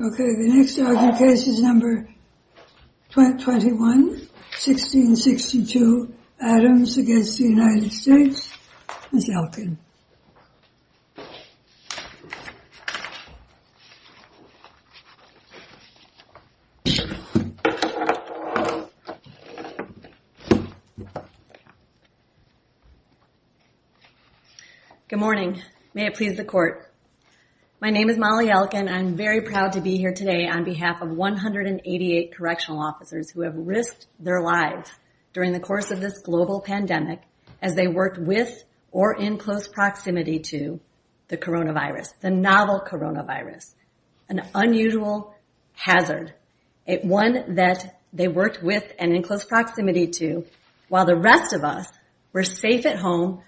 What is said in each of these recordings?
Okay, the next case is number 21, 1662 Adams against the United States. Ms. Elkin. Good morning. May it please the court. My name is Molly Elkin. I'm very proud to be here today on behalf of 188 correctional officers who have risked their lives during the course of this global pandemic as they worked with or in close proximity to the coronavirus, the novel coronavirus, an unusual hazard, one that they worked with and in close proximity to, while the rest of us were safe at home,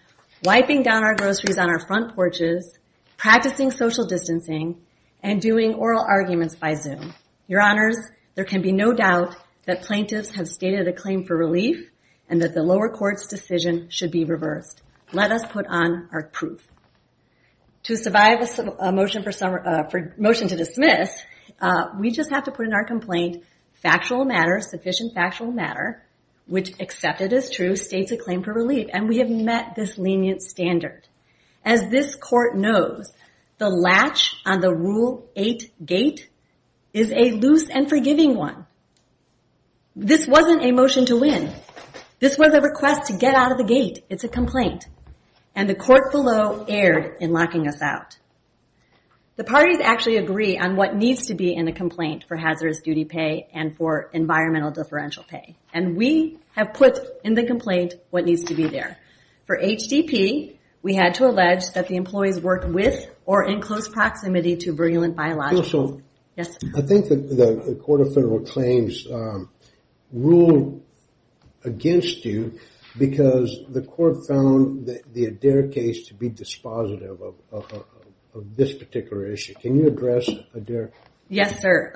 wiping down our groceries on our front porches, practicing social distancing, and doing oral arguments by Zoom. Your Honors, there can be no doubt that plaintiffs have stated a claim for relief and that the lower court's decision should be reversed. Let us put on our proof. To survive a motion to dismiss, we just have to put in our complaint, factual matter, sufficient factual matter, which accepted as true, states a claim for relief, and we have met this lenient standard. As this court knows, the latch on the Rule 8 gate is a loose and forgiving one. This wasn't a motion to win. This was a request to get out of the gate. It's a complaint, and the court below erred in locking us out. The parties actually agree on what needs to be in the complaint for hazardous duty pay and for environmental differential pay, and we have put in the complaint what needs to be there. For HDP, we had to allege that the employees worked with or in close proximity to virulent biologicals. I think the Court of Federal Claims ruled against you because the court found the Adair case to be dispositive of this particular issue. Can you address Adair? Yes, sir.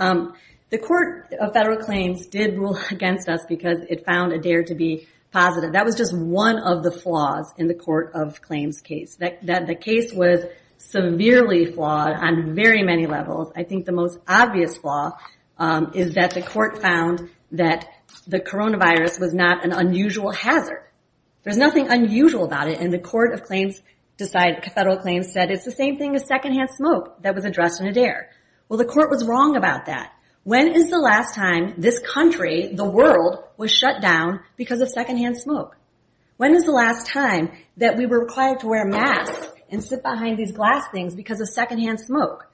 The Court of Federal Claims did rule against us because it found Adair to be positive. That was just one of the flaws in the Court of Claims case, that the case was severely flawed on very many levels. I think the most obvious flaw is that the court found that the coronavirus was not an unusual hazard. There's nothing unusual about it, and the Court of Federal Claims said it's the same thing as secondhand smoke that was addressed in Adair. Well, the court was wrong about that. When is the last time this country, the world, was shut down because of secondhand smoke? When is the last time that we were required to wear masks and sit behind these glass things because of secondhand smoke?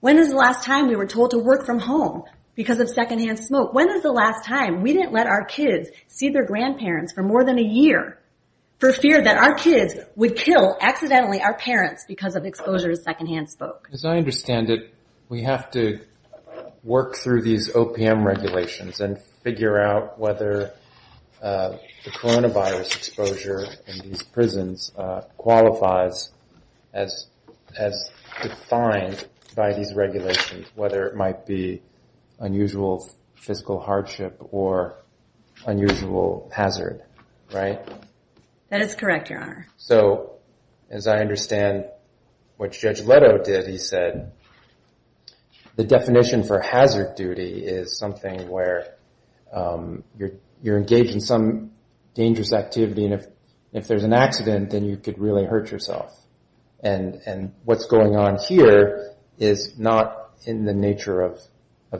When is the last time we were told to work from home because of secondhand smoke? When is the last time we didn't let our kids see their grandparents for more than a year for fear that our kids would kill, accidentally, our parents because of exposure to secondhand smoke? As I understand it, we have to work through these OPM regulations and figure out whether the coronavirus exposure in these prisons qualifies as defined by these regulations, whether it might be unusual fiscal hardship or unusual hazard, right? That is correct, Your Honor. So, as I understand what Judge Leto did, he said, the definition for hazard duty is something where you're engaged in some activity, and if there's an accident, then you could really hurt yourself. And what's going on here is not in the nature of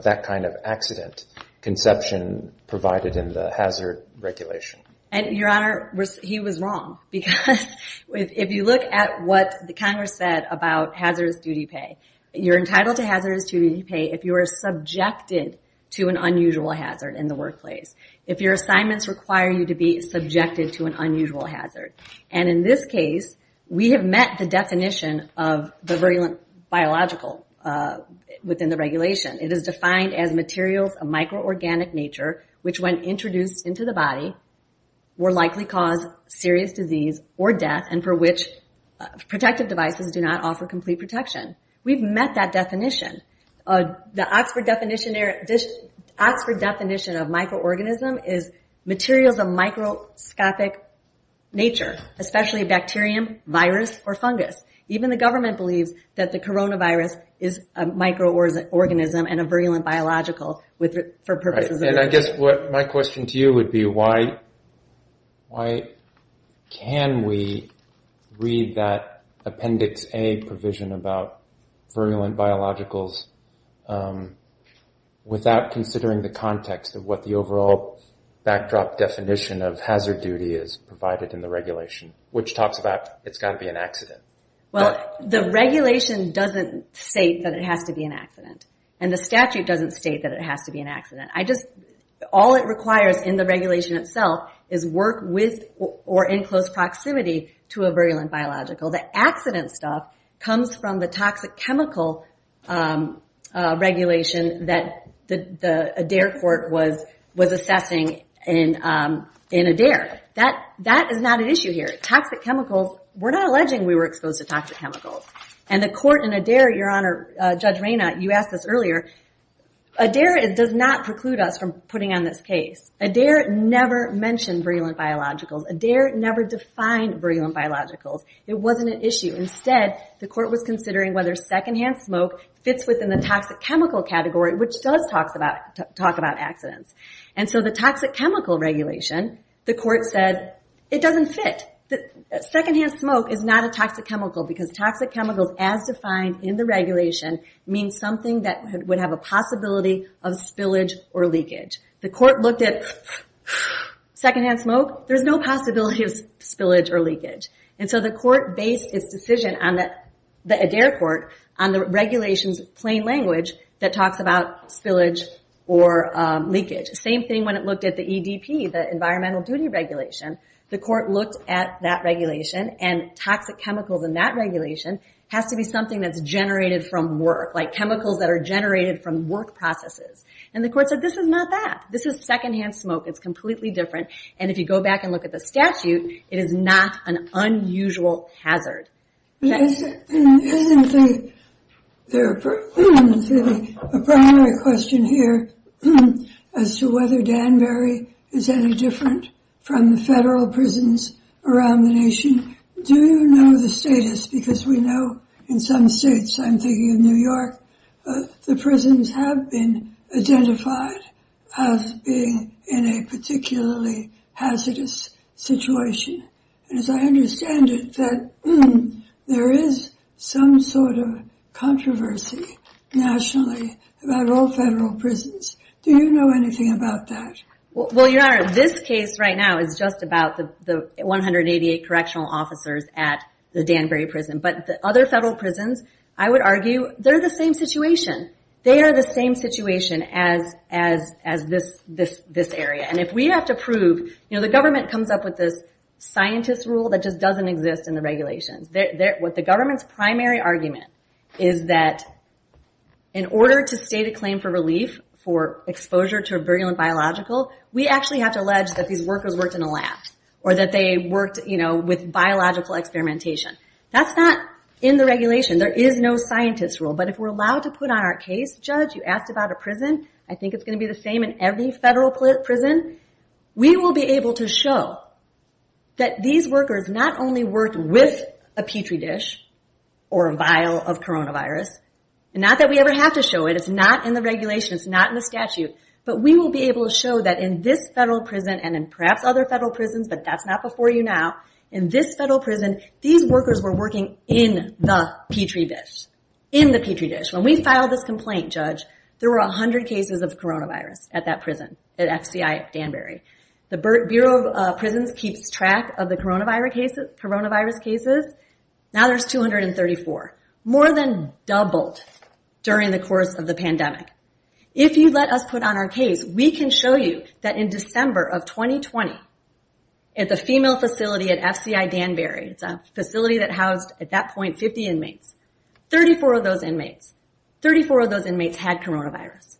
that kind of accident conception provided in the hazard regulation. And, Your Honor, he was wrong because if you look at what the Congress said about hazardous duty pay, you're entitled to hazardous duty pay if you are subjected to an unusual hazard in the workplace. If your assignments require you to be subjected to an unusual hazard. And in this case, we have met the definition of the biological within the regulation. It is defined as materials of microorganic nature, which, when introduced into the body, will likely cause serious disease or death and for which protective devices do not offer complete protection. We've met that definition. The Oxford definition of microorganism is materials of microscopic nature, especially bacterium, virus, or fungus. Even the government believes that the coronavirus is a microorganism and a virulent biological for purposes of... And I guess my question to you would be, why can we read that Appendix A provision about virulent biologicals without considering the context of what the overall backdrop definition of hazard duty is provided in the regulation, which talks about it's got to be an accident? Well, the regulation doesn't state that it has to be an accident. And the statute doesn't state that it has to be an accident. I just... All it requires in the regulation itself is work with or in close proximity to a virulent biological. The accident stuff comes from the toxic chemical regulation that the Adair court was assessing in Adair. That is not an issue here. Toxic chemicals... We're not alleging we were exposed to toxic chemicals. And the court in Adair... Your Honor, Judge Reyna, you asked this earlier. Adair does not preclude us from putting on this case. Adair never mentioned virulent biologicals. Adair never defined virulent biologicals. It wasn't an issue. Instead, the court was considering whether secondhand smoke fits within the toxic chemical category, which does talk about accidents. And so the toxic chemical regulation, the court said, it doesn't fit. Secondhand smoke is not a toxic chemical because toxic chemicals, as defined in the regulation, means something that would have a possibility of spillage or leakage. The court looked at secondhand smoke. There's no possibility of spillage or leakage. And so the court based its decision on the Adair court on the regulations plain language that talks about spillage or leakage. Same thing when it looked at the EDP, the environmental duty regulation. The court looked at that regulation and toxic chemicals in that regulation has to be something that's generated from work, like chemicals that are generated from work processes. And the court said, this is not that. This is secondhand smoke. It's completely different. And if you go back and look at the statute, it is not an unusual hazard. Isn't there a primary question here as to whether Danbury is any different from the federal prisons around the nation? Do you know the status? Because we know in some states, I'm thinking of New York, the prisons have been identified as being in a particularly hazardous situation. And as I understand it, there is some sort of controversy nationally about all federal prisons. Do you know anything about that? Well, your honor, this case right now is just about the 188 correctional officers at the Danbury prison. But the other federal prisons, I would argue, they're the same situation. They are the same situation as this area. And if we have to prove, you know, the government comes up with this scientist's rule that just doesn't exist in the regulations. What the government's primary argument is that in order to state a claim for relief for exposure to a virulent biological, we actually have to allege that these workers worked in a lab or that they worked with biological experimentation. That's not in the regulation. There is no scientist's rule. But if we're allowed to put on our case, judge, you asked about a prison. I think it's going to be the same in every federal prison. We will be able to show that these workers not only worked with a Petri dish or a vial of coronavirus. Not that we ever have to show it. It's not in the regulations, not in the statute. But we will be able to show that in this federal prison and in perhaps other federal prisons, but that's not before you now. In this federal prison, these workers were working in the Petri dish. In the Petri dish. When we filed this complaint, judge, there were 100 cases of coronavirus at that prison, at FCI Danbury. The Bureau of Prisons keeps track of the coronavirus cases. Now there's 234. More than doubled during the course of the pandemic. If you let us put on our case, we can show you that in December of 2020, at the female facility at FCI Danbury, it's a facility that housed at that point 50 inmates. 34 of those inmates. 34 of those inmates had coronavirus.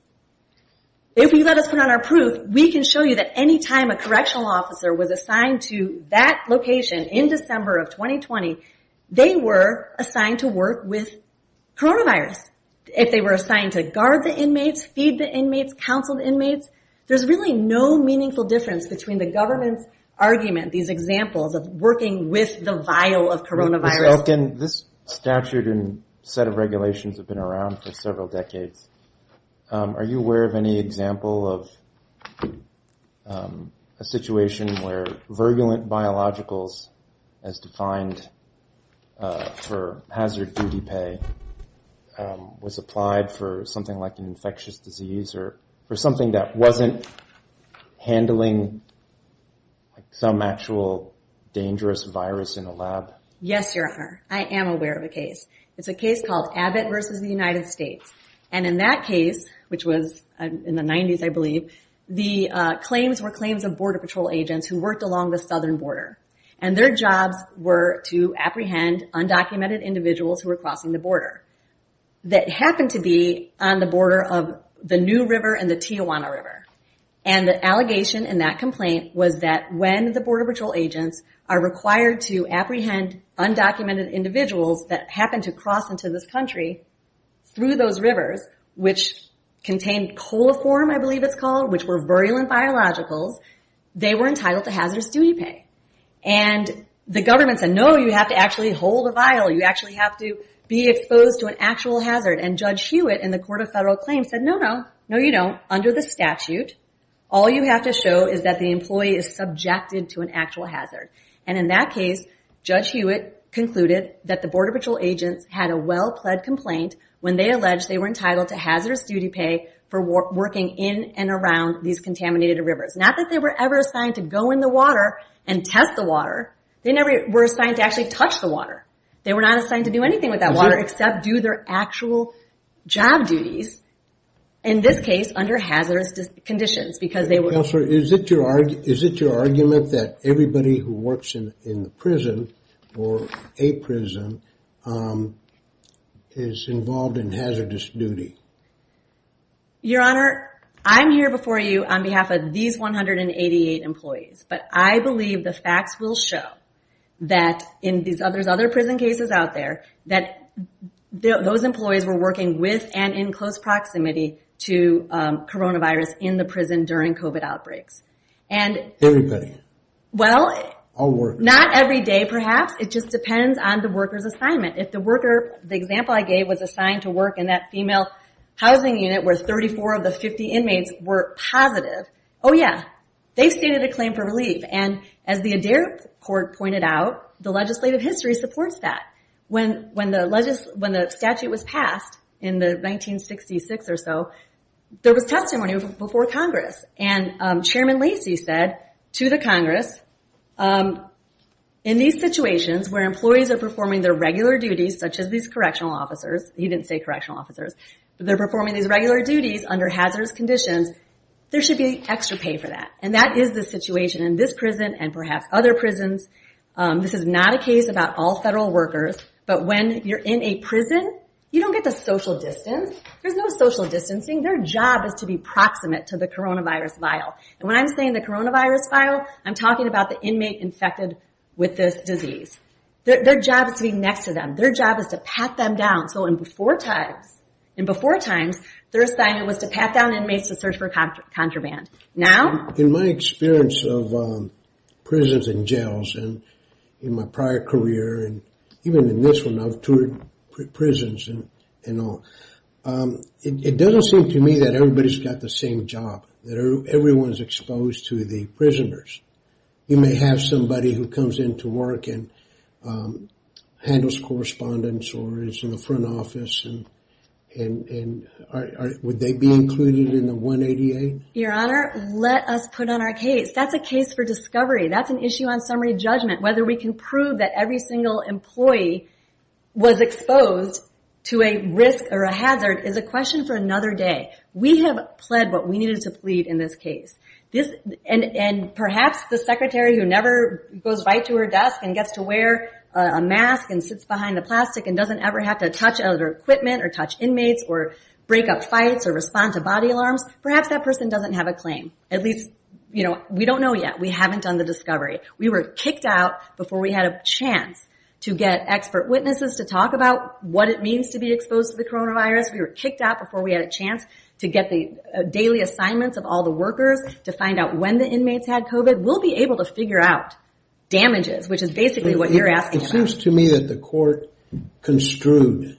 If you let us put on our proof, we can show you that any time a correctional officer was assigned to that location in December of 2020, they were assigned to work with coronavirus. If they were assigned to guard the inmates, feed the inmates, counsel the inmates. There's really no meaningful difference between the government's argument, these examples of working with the vial of coronavirus. This statute and set of regulations have been around for several decades. Are you aware of any example of a situation where virulent biologicals, as defined for hazard duty pay, was applied for something like an infectious disease or for something that wasn't handling some actual dangerous virus in a lab? Yes, Your Honor. I am aware of a case. It's a case called Abbott versus the United States. And in that case, which was in the 90s, I believe, the claims were claims of Border Patrol agents who worked along the southern border. And their jobs were to apprehend undocumented individuals who were crossing the border. That happened to be on the border of the New River and the Tijuana River. And the allegation in that complaint was that when the Border Patrol agents are required to apprehend undocumented individuals that happened to cross into this country through those rivers, which contained coliform, I believe it's called, which were virulent biologicals, they were entitled to hazardous duty pay. And the government said, no, you have to actually hold a vial. You actually have to be exposed to an actual hazard. And Judge Hewitt in the Court of Federal Claims said, no, no, no, you don't. Under the statute, all you have to show is that the employee is subjected to an actual hazard. And in that case, Judge Hewitt concluded that the Border Patrol agents had a well-pled complaint when they alleged they were entitled to hazardous duty pay for working in and around these contaminated rivers. Not that they were ever assigned to go in the water and test the water. They never were assigned to actually touch the water. They were not assigned to do anything with that water except do their actual job duties. In this case, under hazardous conditions, because they were... Counselor, is it your argument that everybody who works in the prison or a prison is involved in hazardous duty? Your Honor, I'm here before you on behalf of these 188 employees. But I believe the facts will show that in these other prison cases out there, that those employees were working with and in close proximity to coronavirus in the prison during COVID outbreaks. And... Everybody? Well, not every day, perhaps. It just depends on the worker's assignment. If the worker, the example I gave, was assigned to work in that female housing unit where 34 of the 50 inmates were positive. Oh yeah, they've stated a claim for relief. And as the Adair Court pointed out, the legislative history supports that. When the statute was passed in the 1966 or so, there was testimony before Congress. And Chairman Lacey said to the Congress, in these situations where employees are performing their regular duties, such as these correctional officers, he didn't say correctional officers, but they're performing these regular duties under hazardous conditions, there should be extra pay for that. And that is the situation in this prison and perhaps other prisons. This is not a case about all federal workers. But when you're in a prison, you don't get the social distance. There's no social distancing. Their job is to be proximate to the coronavirus vial. And when I'm saying the coronavirus vial, I'm talking about the inmate infected with this disease. Their job is to be next to them. Their job is to pat them down. So in before times, in before times, their assignment was to pat down inmates to search for contraband. Now, in my experience of prisons and jails and in my prior career, and even in this one, I've toured prisons and all, it doesn't seem to me that everybody's got the same job, that everyone's exposed to the prisoners. You may have somebody who comes into work and handles correspondence or is in the front office and would they be included in the 188? Your Honor, let us put on our case. That's a case for discovery. That's an issue on summary judgment. Whether we can prove that every single employee was exposed to a risk or a hazard is a question for another day. We have pled what we needed to plead in this case. And perhaps the secretary who never goes right to her desk and gets to wear a mask and sits behind the plastic and doesn't ever have to touch other equipment or touch inmates or break up fights or respond to body alarms, perhaps that person doesn't have a claim. At least, you know, we don't know yet. We haven't done the discovery. We were kicked out before we had a chance to get expert witnesses to talk about what it means to be exposed to the coronavirus. We were kicked out before we had a chance to get the daily assignments of all the workers to find out when the inmates had COVID. We'll be able to figure out damages, which is basically what you're asking. It seems to me that the court construed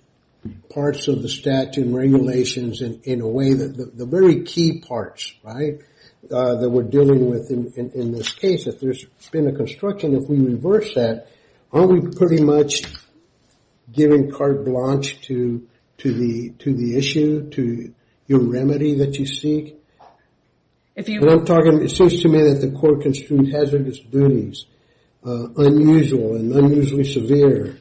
parts of the statute and regulations in a way that the very key parts, right, that we're dealing with in this case. If there's been a construction, if we reverse that, aren't we pretty much giving carte blanche to the issue, to your remedy that you seek? And I'm talking, it seems to me that the court construed hazardous duties, unusual and unusually severe,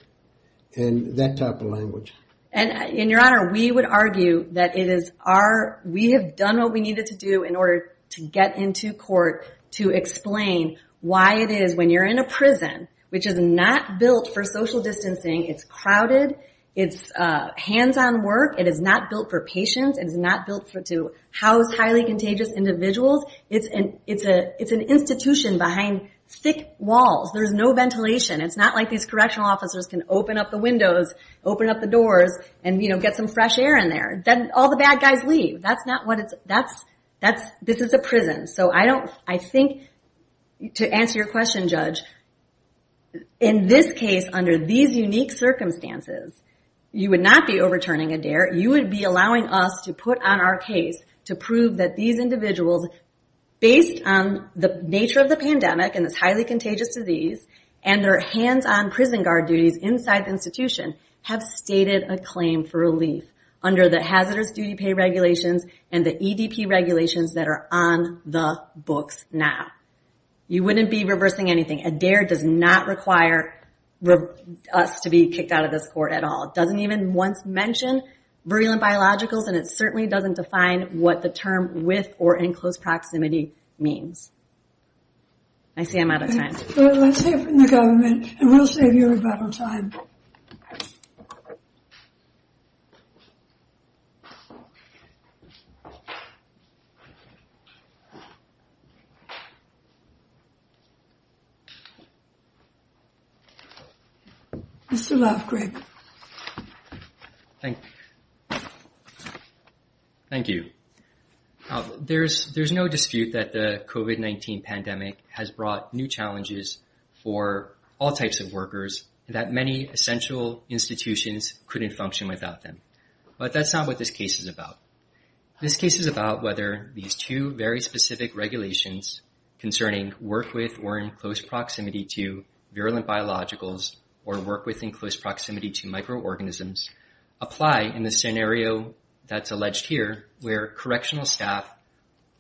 and that type of language. And your honor, we would argue that it is our, we have done what we needed to do in order to get into court to explain why it is when you're in a prison, which is not built for social distancing, it's crowded, it's hands-on work, it is not built for patients, it is not built to house highly contagious individuals. It's an institution behind thick walls. There's no ventilation. It's not like these correctional officers can open up the windows, open up the doors, and get some fresh air in there. Then all the bad guys leave. That's not what it's, that's, this is a prison. So I don't, I think, to answer your question, Judge, in this case, under these unique circumstances, you would not be overturning a dare. You would be allowing us to put on our case to prove that these individuals, based on the nature of the pandemic and this highly contagious disease, and their hands-on prison guard duties inside the institution, have stated a claim for relief under the hazardous duty pay regulations and the EDP regulations that are on the books now. You wouldn't be reversing anything. A dare does not require us to be kicked out of this court at all. It doesn't even once mention virulent biologicals, and it certainly doesn't define what the term with or in close proximity means. I see I'm out of time. Let's hear from the government, and we'll save you a lot of time. Mr. Love, Greg. Thank you. There's no dispute that the COVID-19 pandemic has brought new challenges for all types of workers, that many essential institutions couldn't function without them, but that's not what this case is about. This case is about whether these two very specific regulations concerning work with or in close proximity to virulent biologicals, or work within close proximity to microorganisms, apply in the scenario that's alleged here, where correctional staff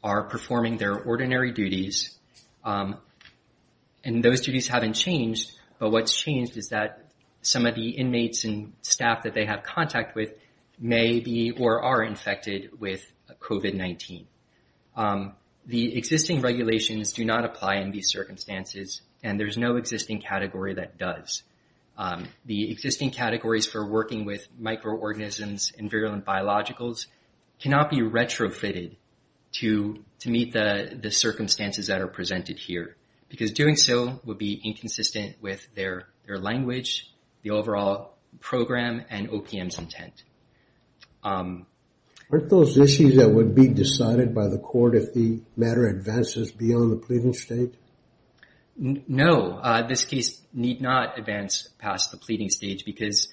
are performing their ordinary duties, and those duties haven't changed, but what's changed is that some of the inmates and staff that they have contact with may be or are infected. With COVID-19, the existing regulations do not apply in these circumstances, and there's no existing category that does. The existing categories for working with microorganisms and virulent biologicals cannot be retrofitted to meet the circumstances that are presented here, because doing so would be inconsistent with their language, the overall program, and OPM's intent. Aren't those issues that would be decided by the court if the matter advances beyond the pleading stage? No, this case need not advance past the pleading stage, because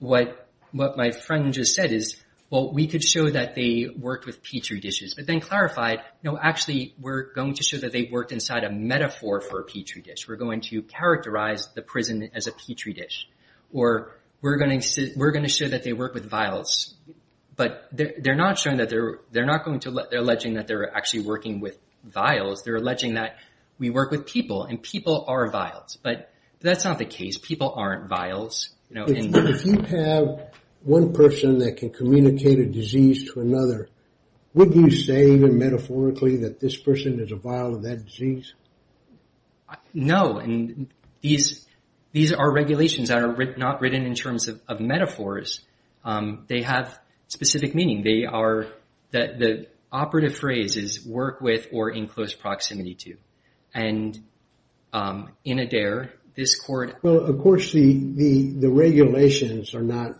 what my friend just said is, well, we could show that they worked with Petri dishes, but then clarified, no, actually, we're going to show that they worked inside a metaphor for a Petri dish. We're going to characterize the prison as a Petri dish, or we're going to show that they work with vials, but they're not going to... They're alleging that they're actually working with vials. They're alleging that we work with people, and people are vials, but that's not the case. People aren't vials. If you have one person that can communicate a disease to another, would you say, even metaphorically, that this person is a vial of that disease? No, and these are regulations that are not written in terms of metaphors. They have specific meaning. The operative phrase is, work with or in close proximity to, and in Adair, this court... Well, of course, the regulations are not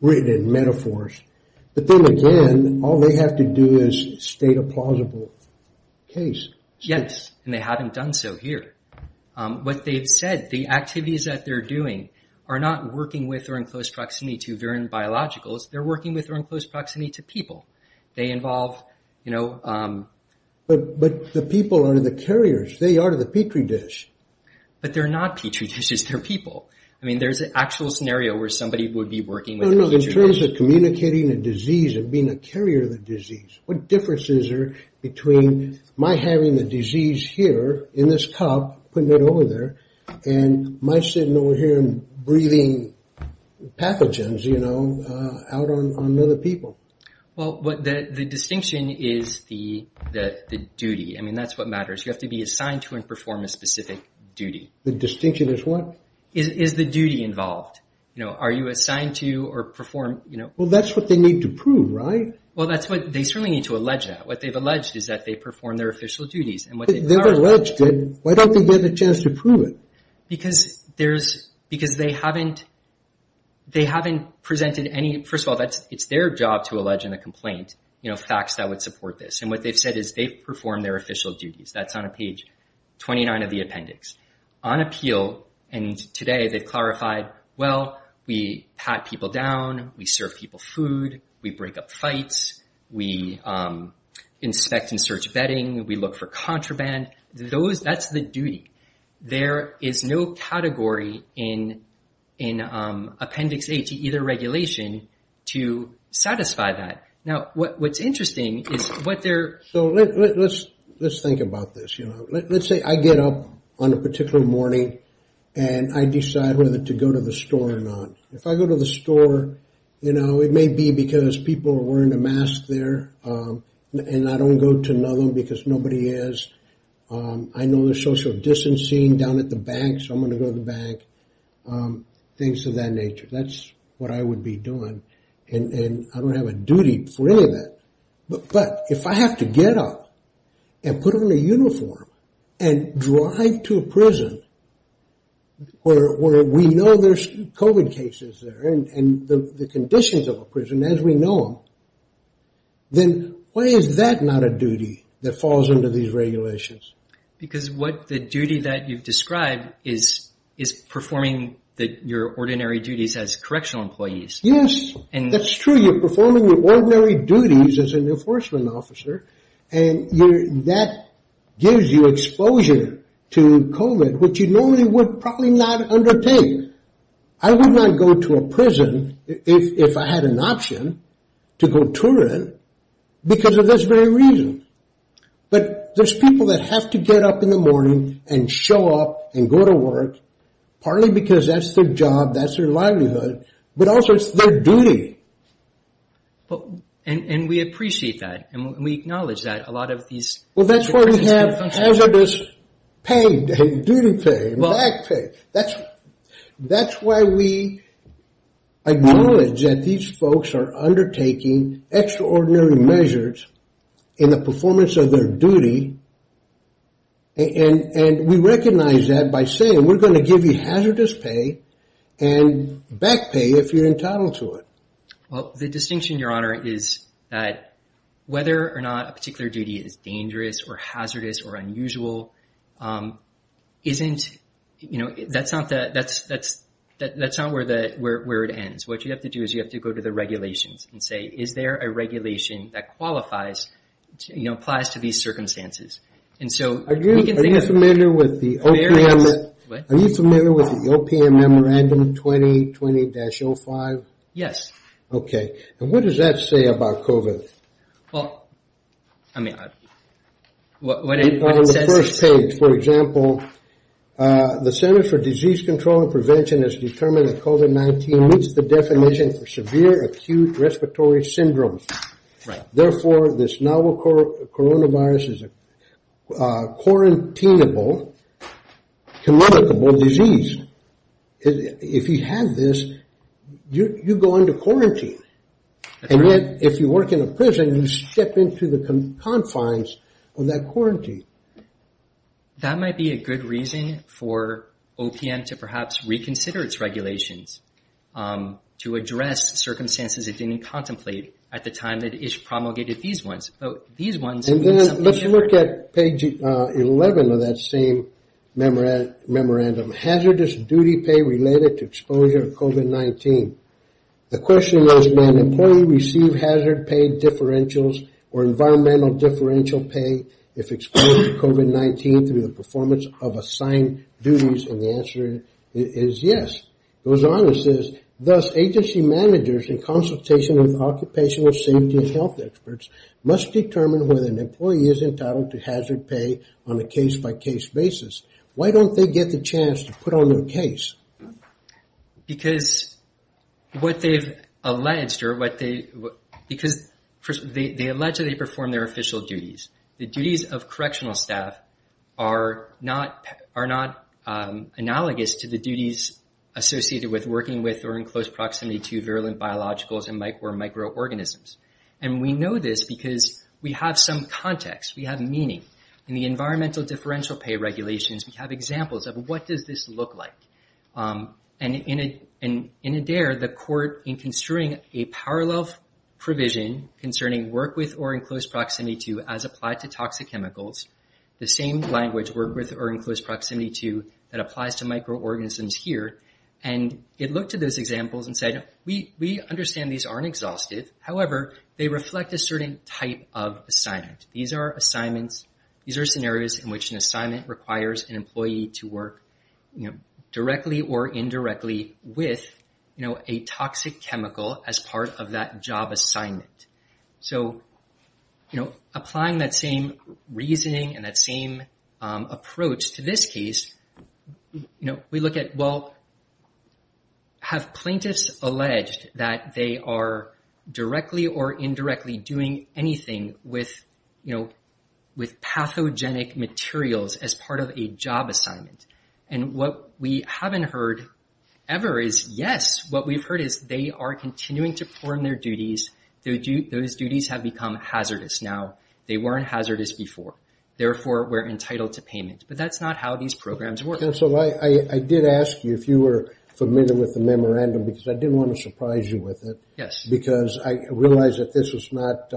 written in metaphors, but then again, all they have to do is state a plausible case. Yes, and they haven't done so here. What they've said, the activities that they're doing are not working with or in close proximity to virulent biologicals. They're working with or in close proximity to people. They involve... But the people are the carriers. They are the Petri dish. But they're not Petri dishes. They're people. In terms of communicating a disease and being a carrier of the disease, what difference is there between my having the disease here in this cup, putting it over there, and my sitting over here and breathing pathogens out on other people? Well, the distinction is the duty. I mean, that's what matters. You have to be assigned to and perform a specific duty. The distinction is what? Is the duty involved? Are you assigned to or perform... Well, that's what they need to prove, right? Well, they certainly need to allege that. What they've alleged is that they perform their official duties. They've alleged it. Why don't they get a chance to prove it? Because they haven't presented any... First of all, it's their job to allege in a complaint facts that would support this. What they've said is they perform their official duties. That's on page 29 of the appendix. On appeal, and today, they've clarified, well, we pat people down. We serve people food. We break up fights. We inspect and search bedding. We look for contraband. That's the duty. There is no category in Appendix A to either regulation to satisfy that. Now, what's interesting is what they're... Let's think about this. Let's say I get up on a particular morning, and I decide whether to go to the store or not. If I go to the store, it may be because people are wearing a mask there, and I don't go to another because nobody is. I know there's social distancing down at the bank, so I'm going to go to the bank. Things of that nature. That's what I would be doing, and I don't have a duty for any of that. But if I have to get up and put on a uniform and drive to a prison where we know there's COVID cases there and the conditions of a prison as we know them, then why is that not a duty that falls under these regulations? Because what the duty that you've described is performing your ordinary duties as correctional employees. Yes, that's true. But you're performing your ordinary duties as an enforcement officer, and that gives you exposure to COVID, which you normally would probably not undertake. I would not go to a prison if I had an option to go to it because of this very reason. But there's people that have to get up in the morning and show up and go to work, partly because that's their job, that's their livelihood, but also it's their duty. And we appreciate that, and we acknowledge that a lot of these... Well, that's why we have hazardous pay, duty pay, and back pay. That's why we acknowledge that these folks are undertaking extraordinary measures in the performance of their duty, and we recognize that by saying we're going to give you hazardous pay and back pay if you're entitled to it. Well, the distinction, Your Honor, is that whether or not a particular duty is dangerous or hazardous or unusual, that's not where it ends. What you have to do is you have to go to the regulations and say, is there a regulation that qualifies, applies to these circumstances? Are you familiar with the OPM Memorandum 2020-05? Okay, and what does that say about COVID? Well, I mean... On the first page, for example, the Center for Disease Control and Prevention has determined that COVID-19 meets the definition for severe acute respiratory syndrome. Therefore, this novel coronavirus is a quarantinable, communicable disease. If you have this, you go into quarantine. And yet, if you work in a prison, you step into the confines of that quarantine. That might be a good reason for OPM to perhaps reconsider its regulations to address circumstances it didn't contemplate at the time that it promulgated these ones. And then let's look at page 11 of that same memorandum. Hazardous duty pay related to exposure to COVID-19. The question is, may an employee receive hazard pay differentials or environmental differential pay if exposed to COVID-19 through the performance of assigned duties? And the answer is yes. It goes on, it says, thus agency managers in consultation with occupational safety and health experts must determine whether an employee is entitled to hazard pay on a case-by-case basis. Why don't they get the chance to put on their case? Because what they've alleged or what they... Because they allegedly perform their official duties. The duties of correctional staff are not analogous to the duties associated with working with or in close proximity to virulent biologicals or microorganisms. And we know this because we have some context, we have meaning. In the environmental differential pay regulations, we have examples of what does this look like. And in Adair, the court in construing a parallel provision concerning work with or in close proximity to as applied to toxic chemicals, the same language, work with or in close proximity to that applies to microorganisms here. And it looked at those examples and said, we understand these aren't exhaustive. However, they reflect a certain type of assignment. These are assignments, these are scenarios in which an assignment requires an employee to work, you know, directly or indirectly with, you know, a toxic chemical as part of that job assignment. So, you know, applying that same reasoning and that same approach to this case, you know, we look at, well, have plaintiffs alleged that they are directly or indirectly doing anything with, you know, with pathogenic materials as part of a job assignment? And what we haven't heard ever is, yes, what we've heard is they are continuing to perform their duties. Those duties have become hazardous now. They weren't hazardous before. Therefore, we're entitled to payment. But that's not how these programs work. I did ask you if you were familiar with the memorandum because I didn't want to surprise you with it. Yes. Because I realize that this was not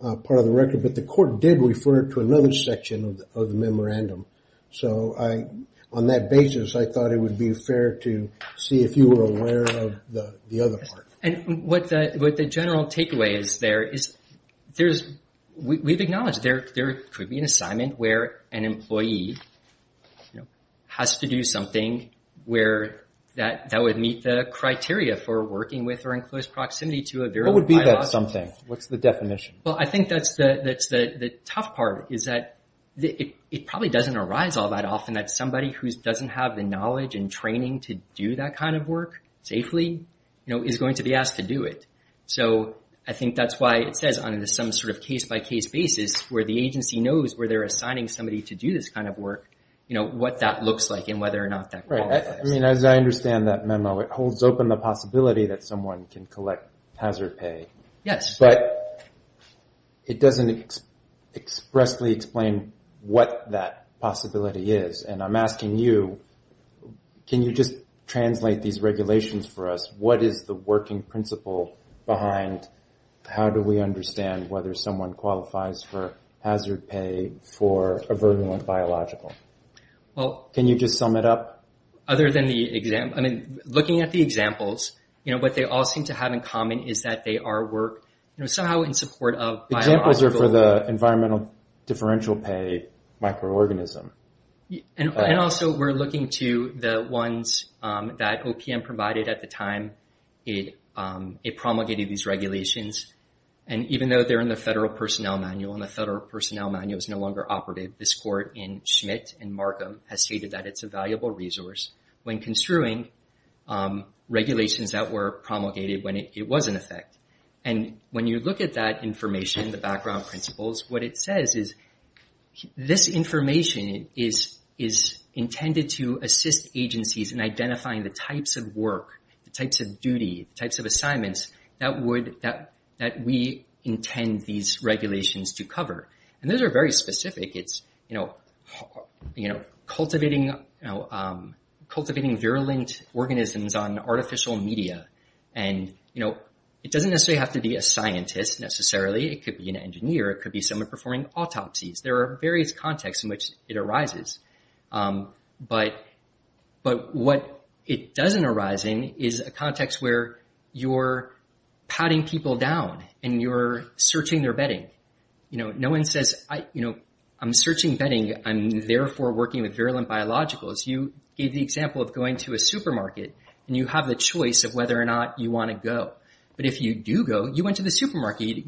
part of the record, but the court did refer to another section of the memorandum. So I, on that basis, I thought it would be fair to see if you were aware of the other part. And what the general takeaway is there, is there's, we've acknowledged there could be an assignment where an employee, you know, has to do something where that would meet the criteria for working with or in close proximity to a bureau. What would be that something? What's the definition? Well, I think that's the tough part, is that it probably doesn't arise all that often that somebody who doesn't have the knowledge and training to do that kind of work safely, you know, is going to be asked to do it. So I think that's why it says on some sort of case-by-case basis where the agency knows where they're assigning somebody to do this kind of work, you know, what that looks like and whether or not that qualifies. Right. I mean, as I understand that memo, it holds open the possibility that someone can collect hazard pay. Yes. But it doesn't expressly explain what that possibility is. And I'm asking you, can you just translate these regulations for us? What is the working principle behind how do we understand whether someone qualifies for hazard pay for a virulent biological? Can you just sum it up? Other than the example, I mean, looking at the examples, you know, what they all seem to have in common is that they are work, you know, somehow in support of biological. Examples are for the environmental differential pay microorganism. And also we're looking to the ones that OPM provided at the time it promulgated these regulations. And even though they're in the Federal Personnel Manual and the Federal Personnel Manual is no longer operative, this court in Schmidt and Markham has stated that it's a valuable resource when construing regulations that were promulgated when it was in effect. And when you look at that information, the background principles, what it says is this information is intended to assist agencies in identifying the types of work, the types of duty, the types of assignments that we intend these regulations to cover. And those are very specific. It's, you know, cultivating virulent organisms on artificial media. And, you know, it doesn't necessarily have to be a scientist necessarily. It could be an engineer. It could be someone performing autopsies. There are various contexts in which it arises. But what it doesn't arise in is a context where you're patting people down and you're searching their bedding. You know, no one says, you know, I'm searching bedding. I'm therefore working with virulent biologicals. You gave the example of going to a supermarket and you have the choice of whether or not you want to go. But if you do go, you went to the supermarket.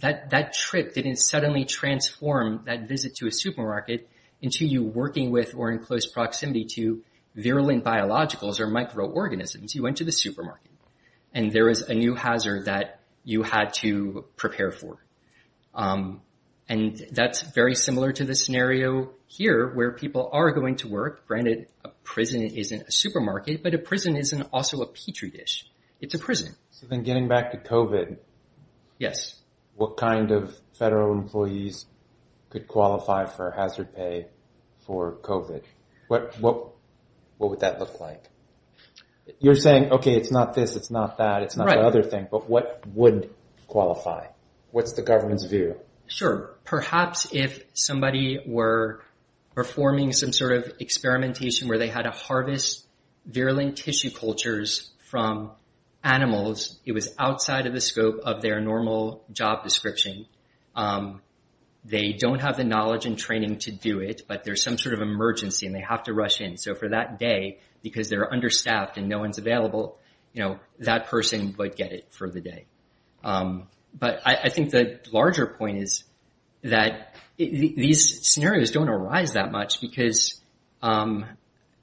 That trip didn't suddenly transform that visit to a supermarket into you working with or in close proximity to virulent biologicals or microorganisms. You went to the supermarket and there was a new hazard that you had to prepare for. And that's very similar to the scenario here where people are going to work. Granted, a prison isn't a supermarket, but a prison isn't also a petri dish. It's a prison. So then getting back to COVID. Yes. What kind of federal employees could qualify for hazard pay for COVID? What would that look like? You're saying, OK, it's not this, it's not that. It's not the other thing. But what would qualify? Sure. Perhaps if somebody were performing some sort of experimentation where they had to harvest virulent tissue cultures from animals, it was outside of the scope of their normal job description. They don't have the knowledge and training to do it, but there's some sort of emergency and they have to rush in. So for that day, because they're understaffed and no one's available, that person would get it for the day. But I think the larger point is that these scenarios don't arise that much because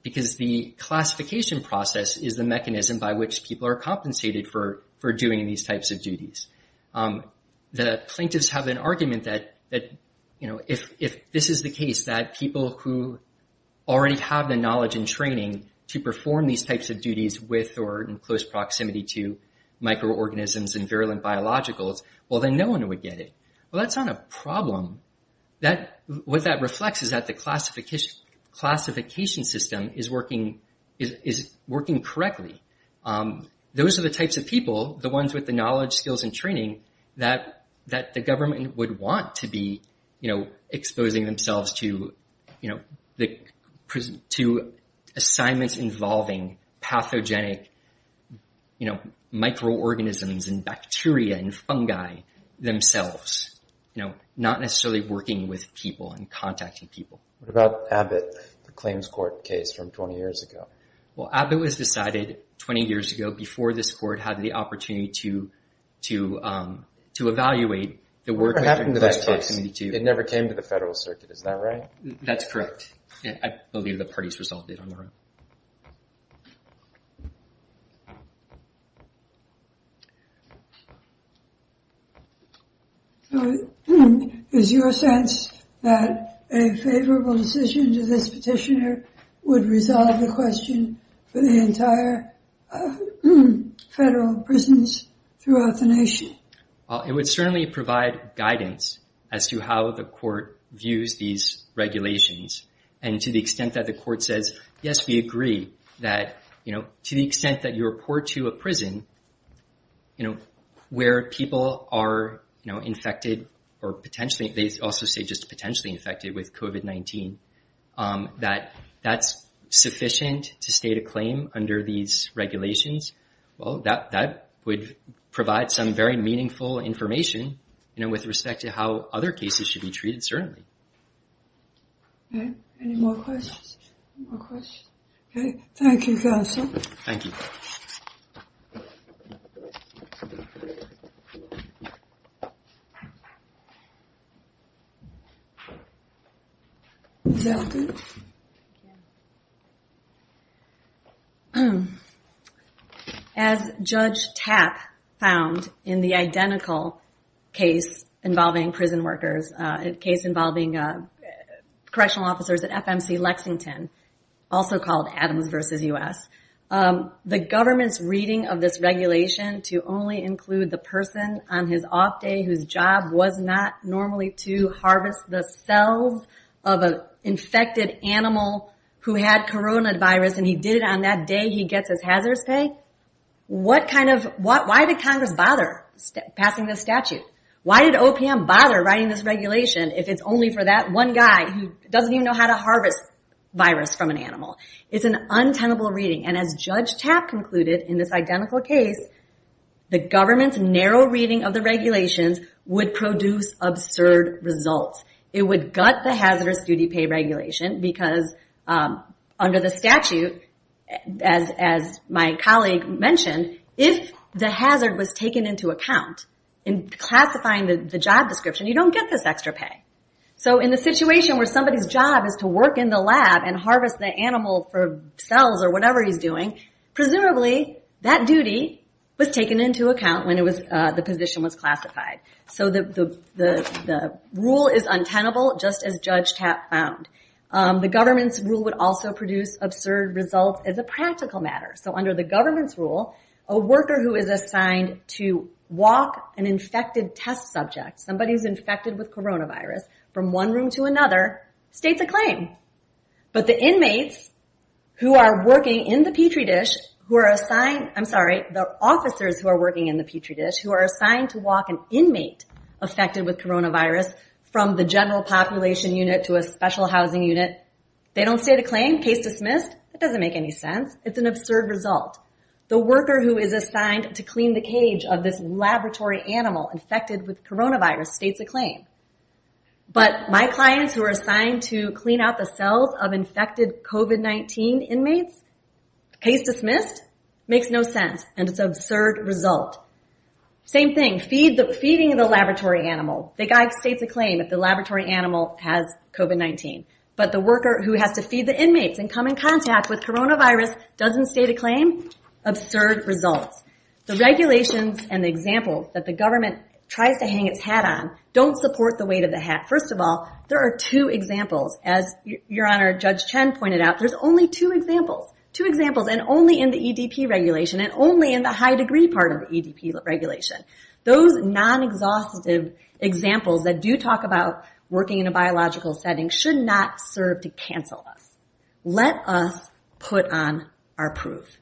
the classification process is the mechanism by which people are compensated for doing these types of duties. The plaintiffs have an argument that if this is the case, that people who already have the knowledge and training to perform these types of duties with or in close proximity to microorganisms and virulent biologicals, well, then no one would get it. Well, that's not a problem. What that reflects is that the classification system is working correctly. Those are the types of people, the ones with the knowledge, skills, and training, that the government would want to be exposing themselves to assignments involving pathogenic microorganisms and bacteria and fungi themselves, not necessarily working with people and contacting people. What about Abbott, the claims court case from 20 years ago? Well, Abbott was decided 20 years ago before this court had the opportunity to evaluate the work... What happened to that case? It never came to the federal circuit. Is that right? That's correct. Thank you. So, is your sense that a favorable decision to this petitioner would resolve the question for the entire federal prisons throughout the nation? It would certainly provide guidance as to how the court views these regulations, and to the extent that the court says, yes, we agree, that to the extent that you report to a prison where people are infected, or they also say just potentially infected with COVID-19, that that's sufficient to state a claim under these regulations. Well, that would provide some very meaningful information with respect to how other cases should be treated, certainly. Any more questions? Okay. Thank you, Faisal. Thank you. Is that good? As Judge Tapp found in the identical case involving prison workers, a case involving correctional officers at FMC Lexington, also called Adams versus U.S., the government's reading of this regulation to only include the person on his off day whose job was not normally to harvest the cells of an infected animal who had coronavirus, and he did it on that day he gets his hazardous pay? Why did Congress bother passing this statute? Why did OPM bother writing this regulation if it's only for that one guy who doesn't even know how to harvest virus from an animal? It's an untenable reading, and as Judge Tapp concluded in this identical case, the government's narrow reading of the regulations would produce absurd results. It would gut the hazardous duty pay regulation because under the statute, as my colleague mentioned, if the hazard was taken into account in classifying the job description, you don't get this extra pay. So in the situation where somebody's job is to work in the lab and harvest the animal for cells or whatever he's doing, presumably that duty was taken into account when the position was classified. So the rule is untenable just as Judge Tapp found. The government's rule would also produce absurd results as a practical matter. So under the government's rule, a worker who is assigned to walk an infected test subject, coronavirus from one room to another, states a claim. But the inmates who are working in the Petri dish who are assigned, I'm sorry, the officers who are working in the Petri dish who are assigned to walk an inmate affected with coronavirus from the general population unit to a special housing unit, they don't state a claim. Case dismissed. That doesn't make any sense. It's an absurd result. The worker who is assigned but my clients who are assigned to clean out the cells of infected COVID-19 inmates, case dismissed, makes no sense and it's an absurd result. Same thing, feeding the laboratory animal, the guy states a claim if the laboratory animal has COVID-19 but the worker who has to feed the inmates and come in contact with coronavirus doesn't state a claim, absurd results. The regulations and the example first of all, there are two examples as Your Honor, Judge Chen pointed out, there's only two examples and only in the EDP regulation and only in the high degree part of the EDP regulation. Those non-exhaustive examples that do talk about working in a biological setting should not serve to cancel us. Let us put on our proof.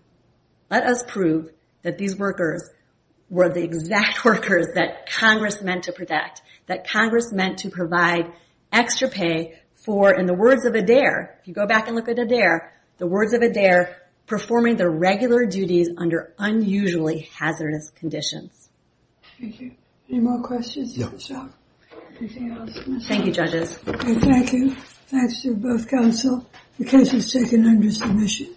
Let us prove that these workers were the exact workers that Congress meant to protect, provide extra pay for in the words of Adair, if you go back and look at Adair, the words of Adair, performing their regular duties under unusually hazardous conditions. Thank you. Any more questions? Thank you judges. Thank you. Thanks to both counsel. The case is taken under submission.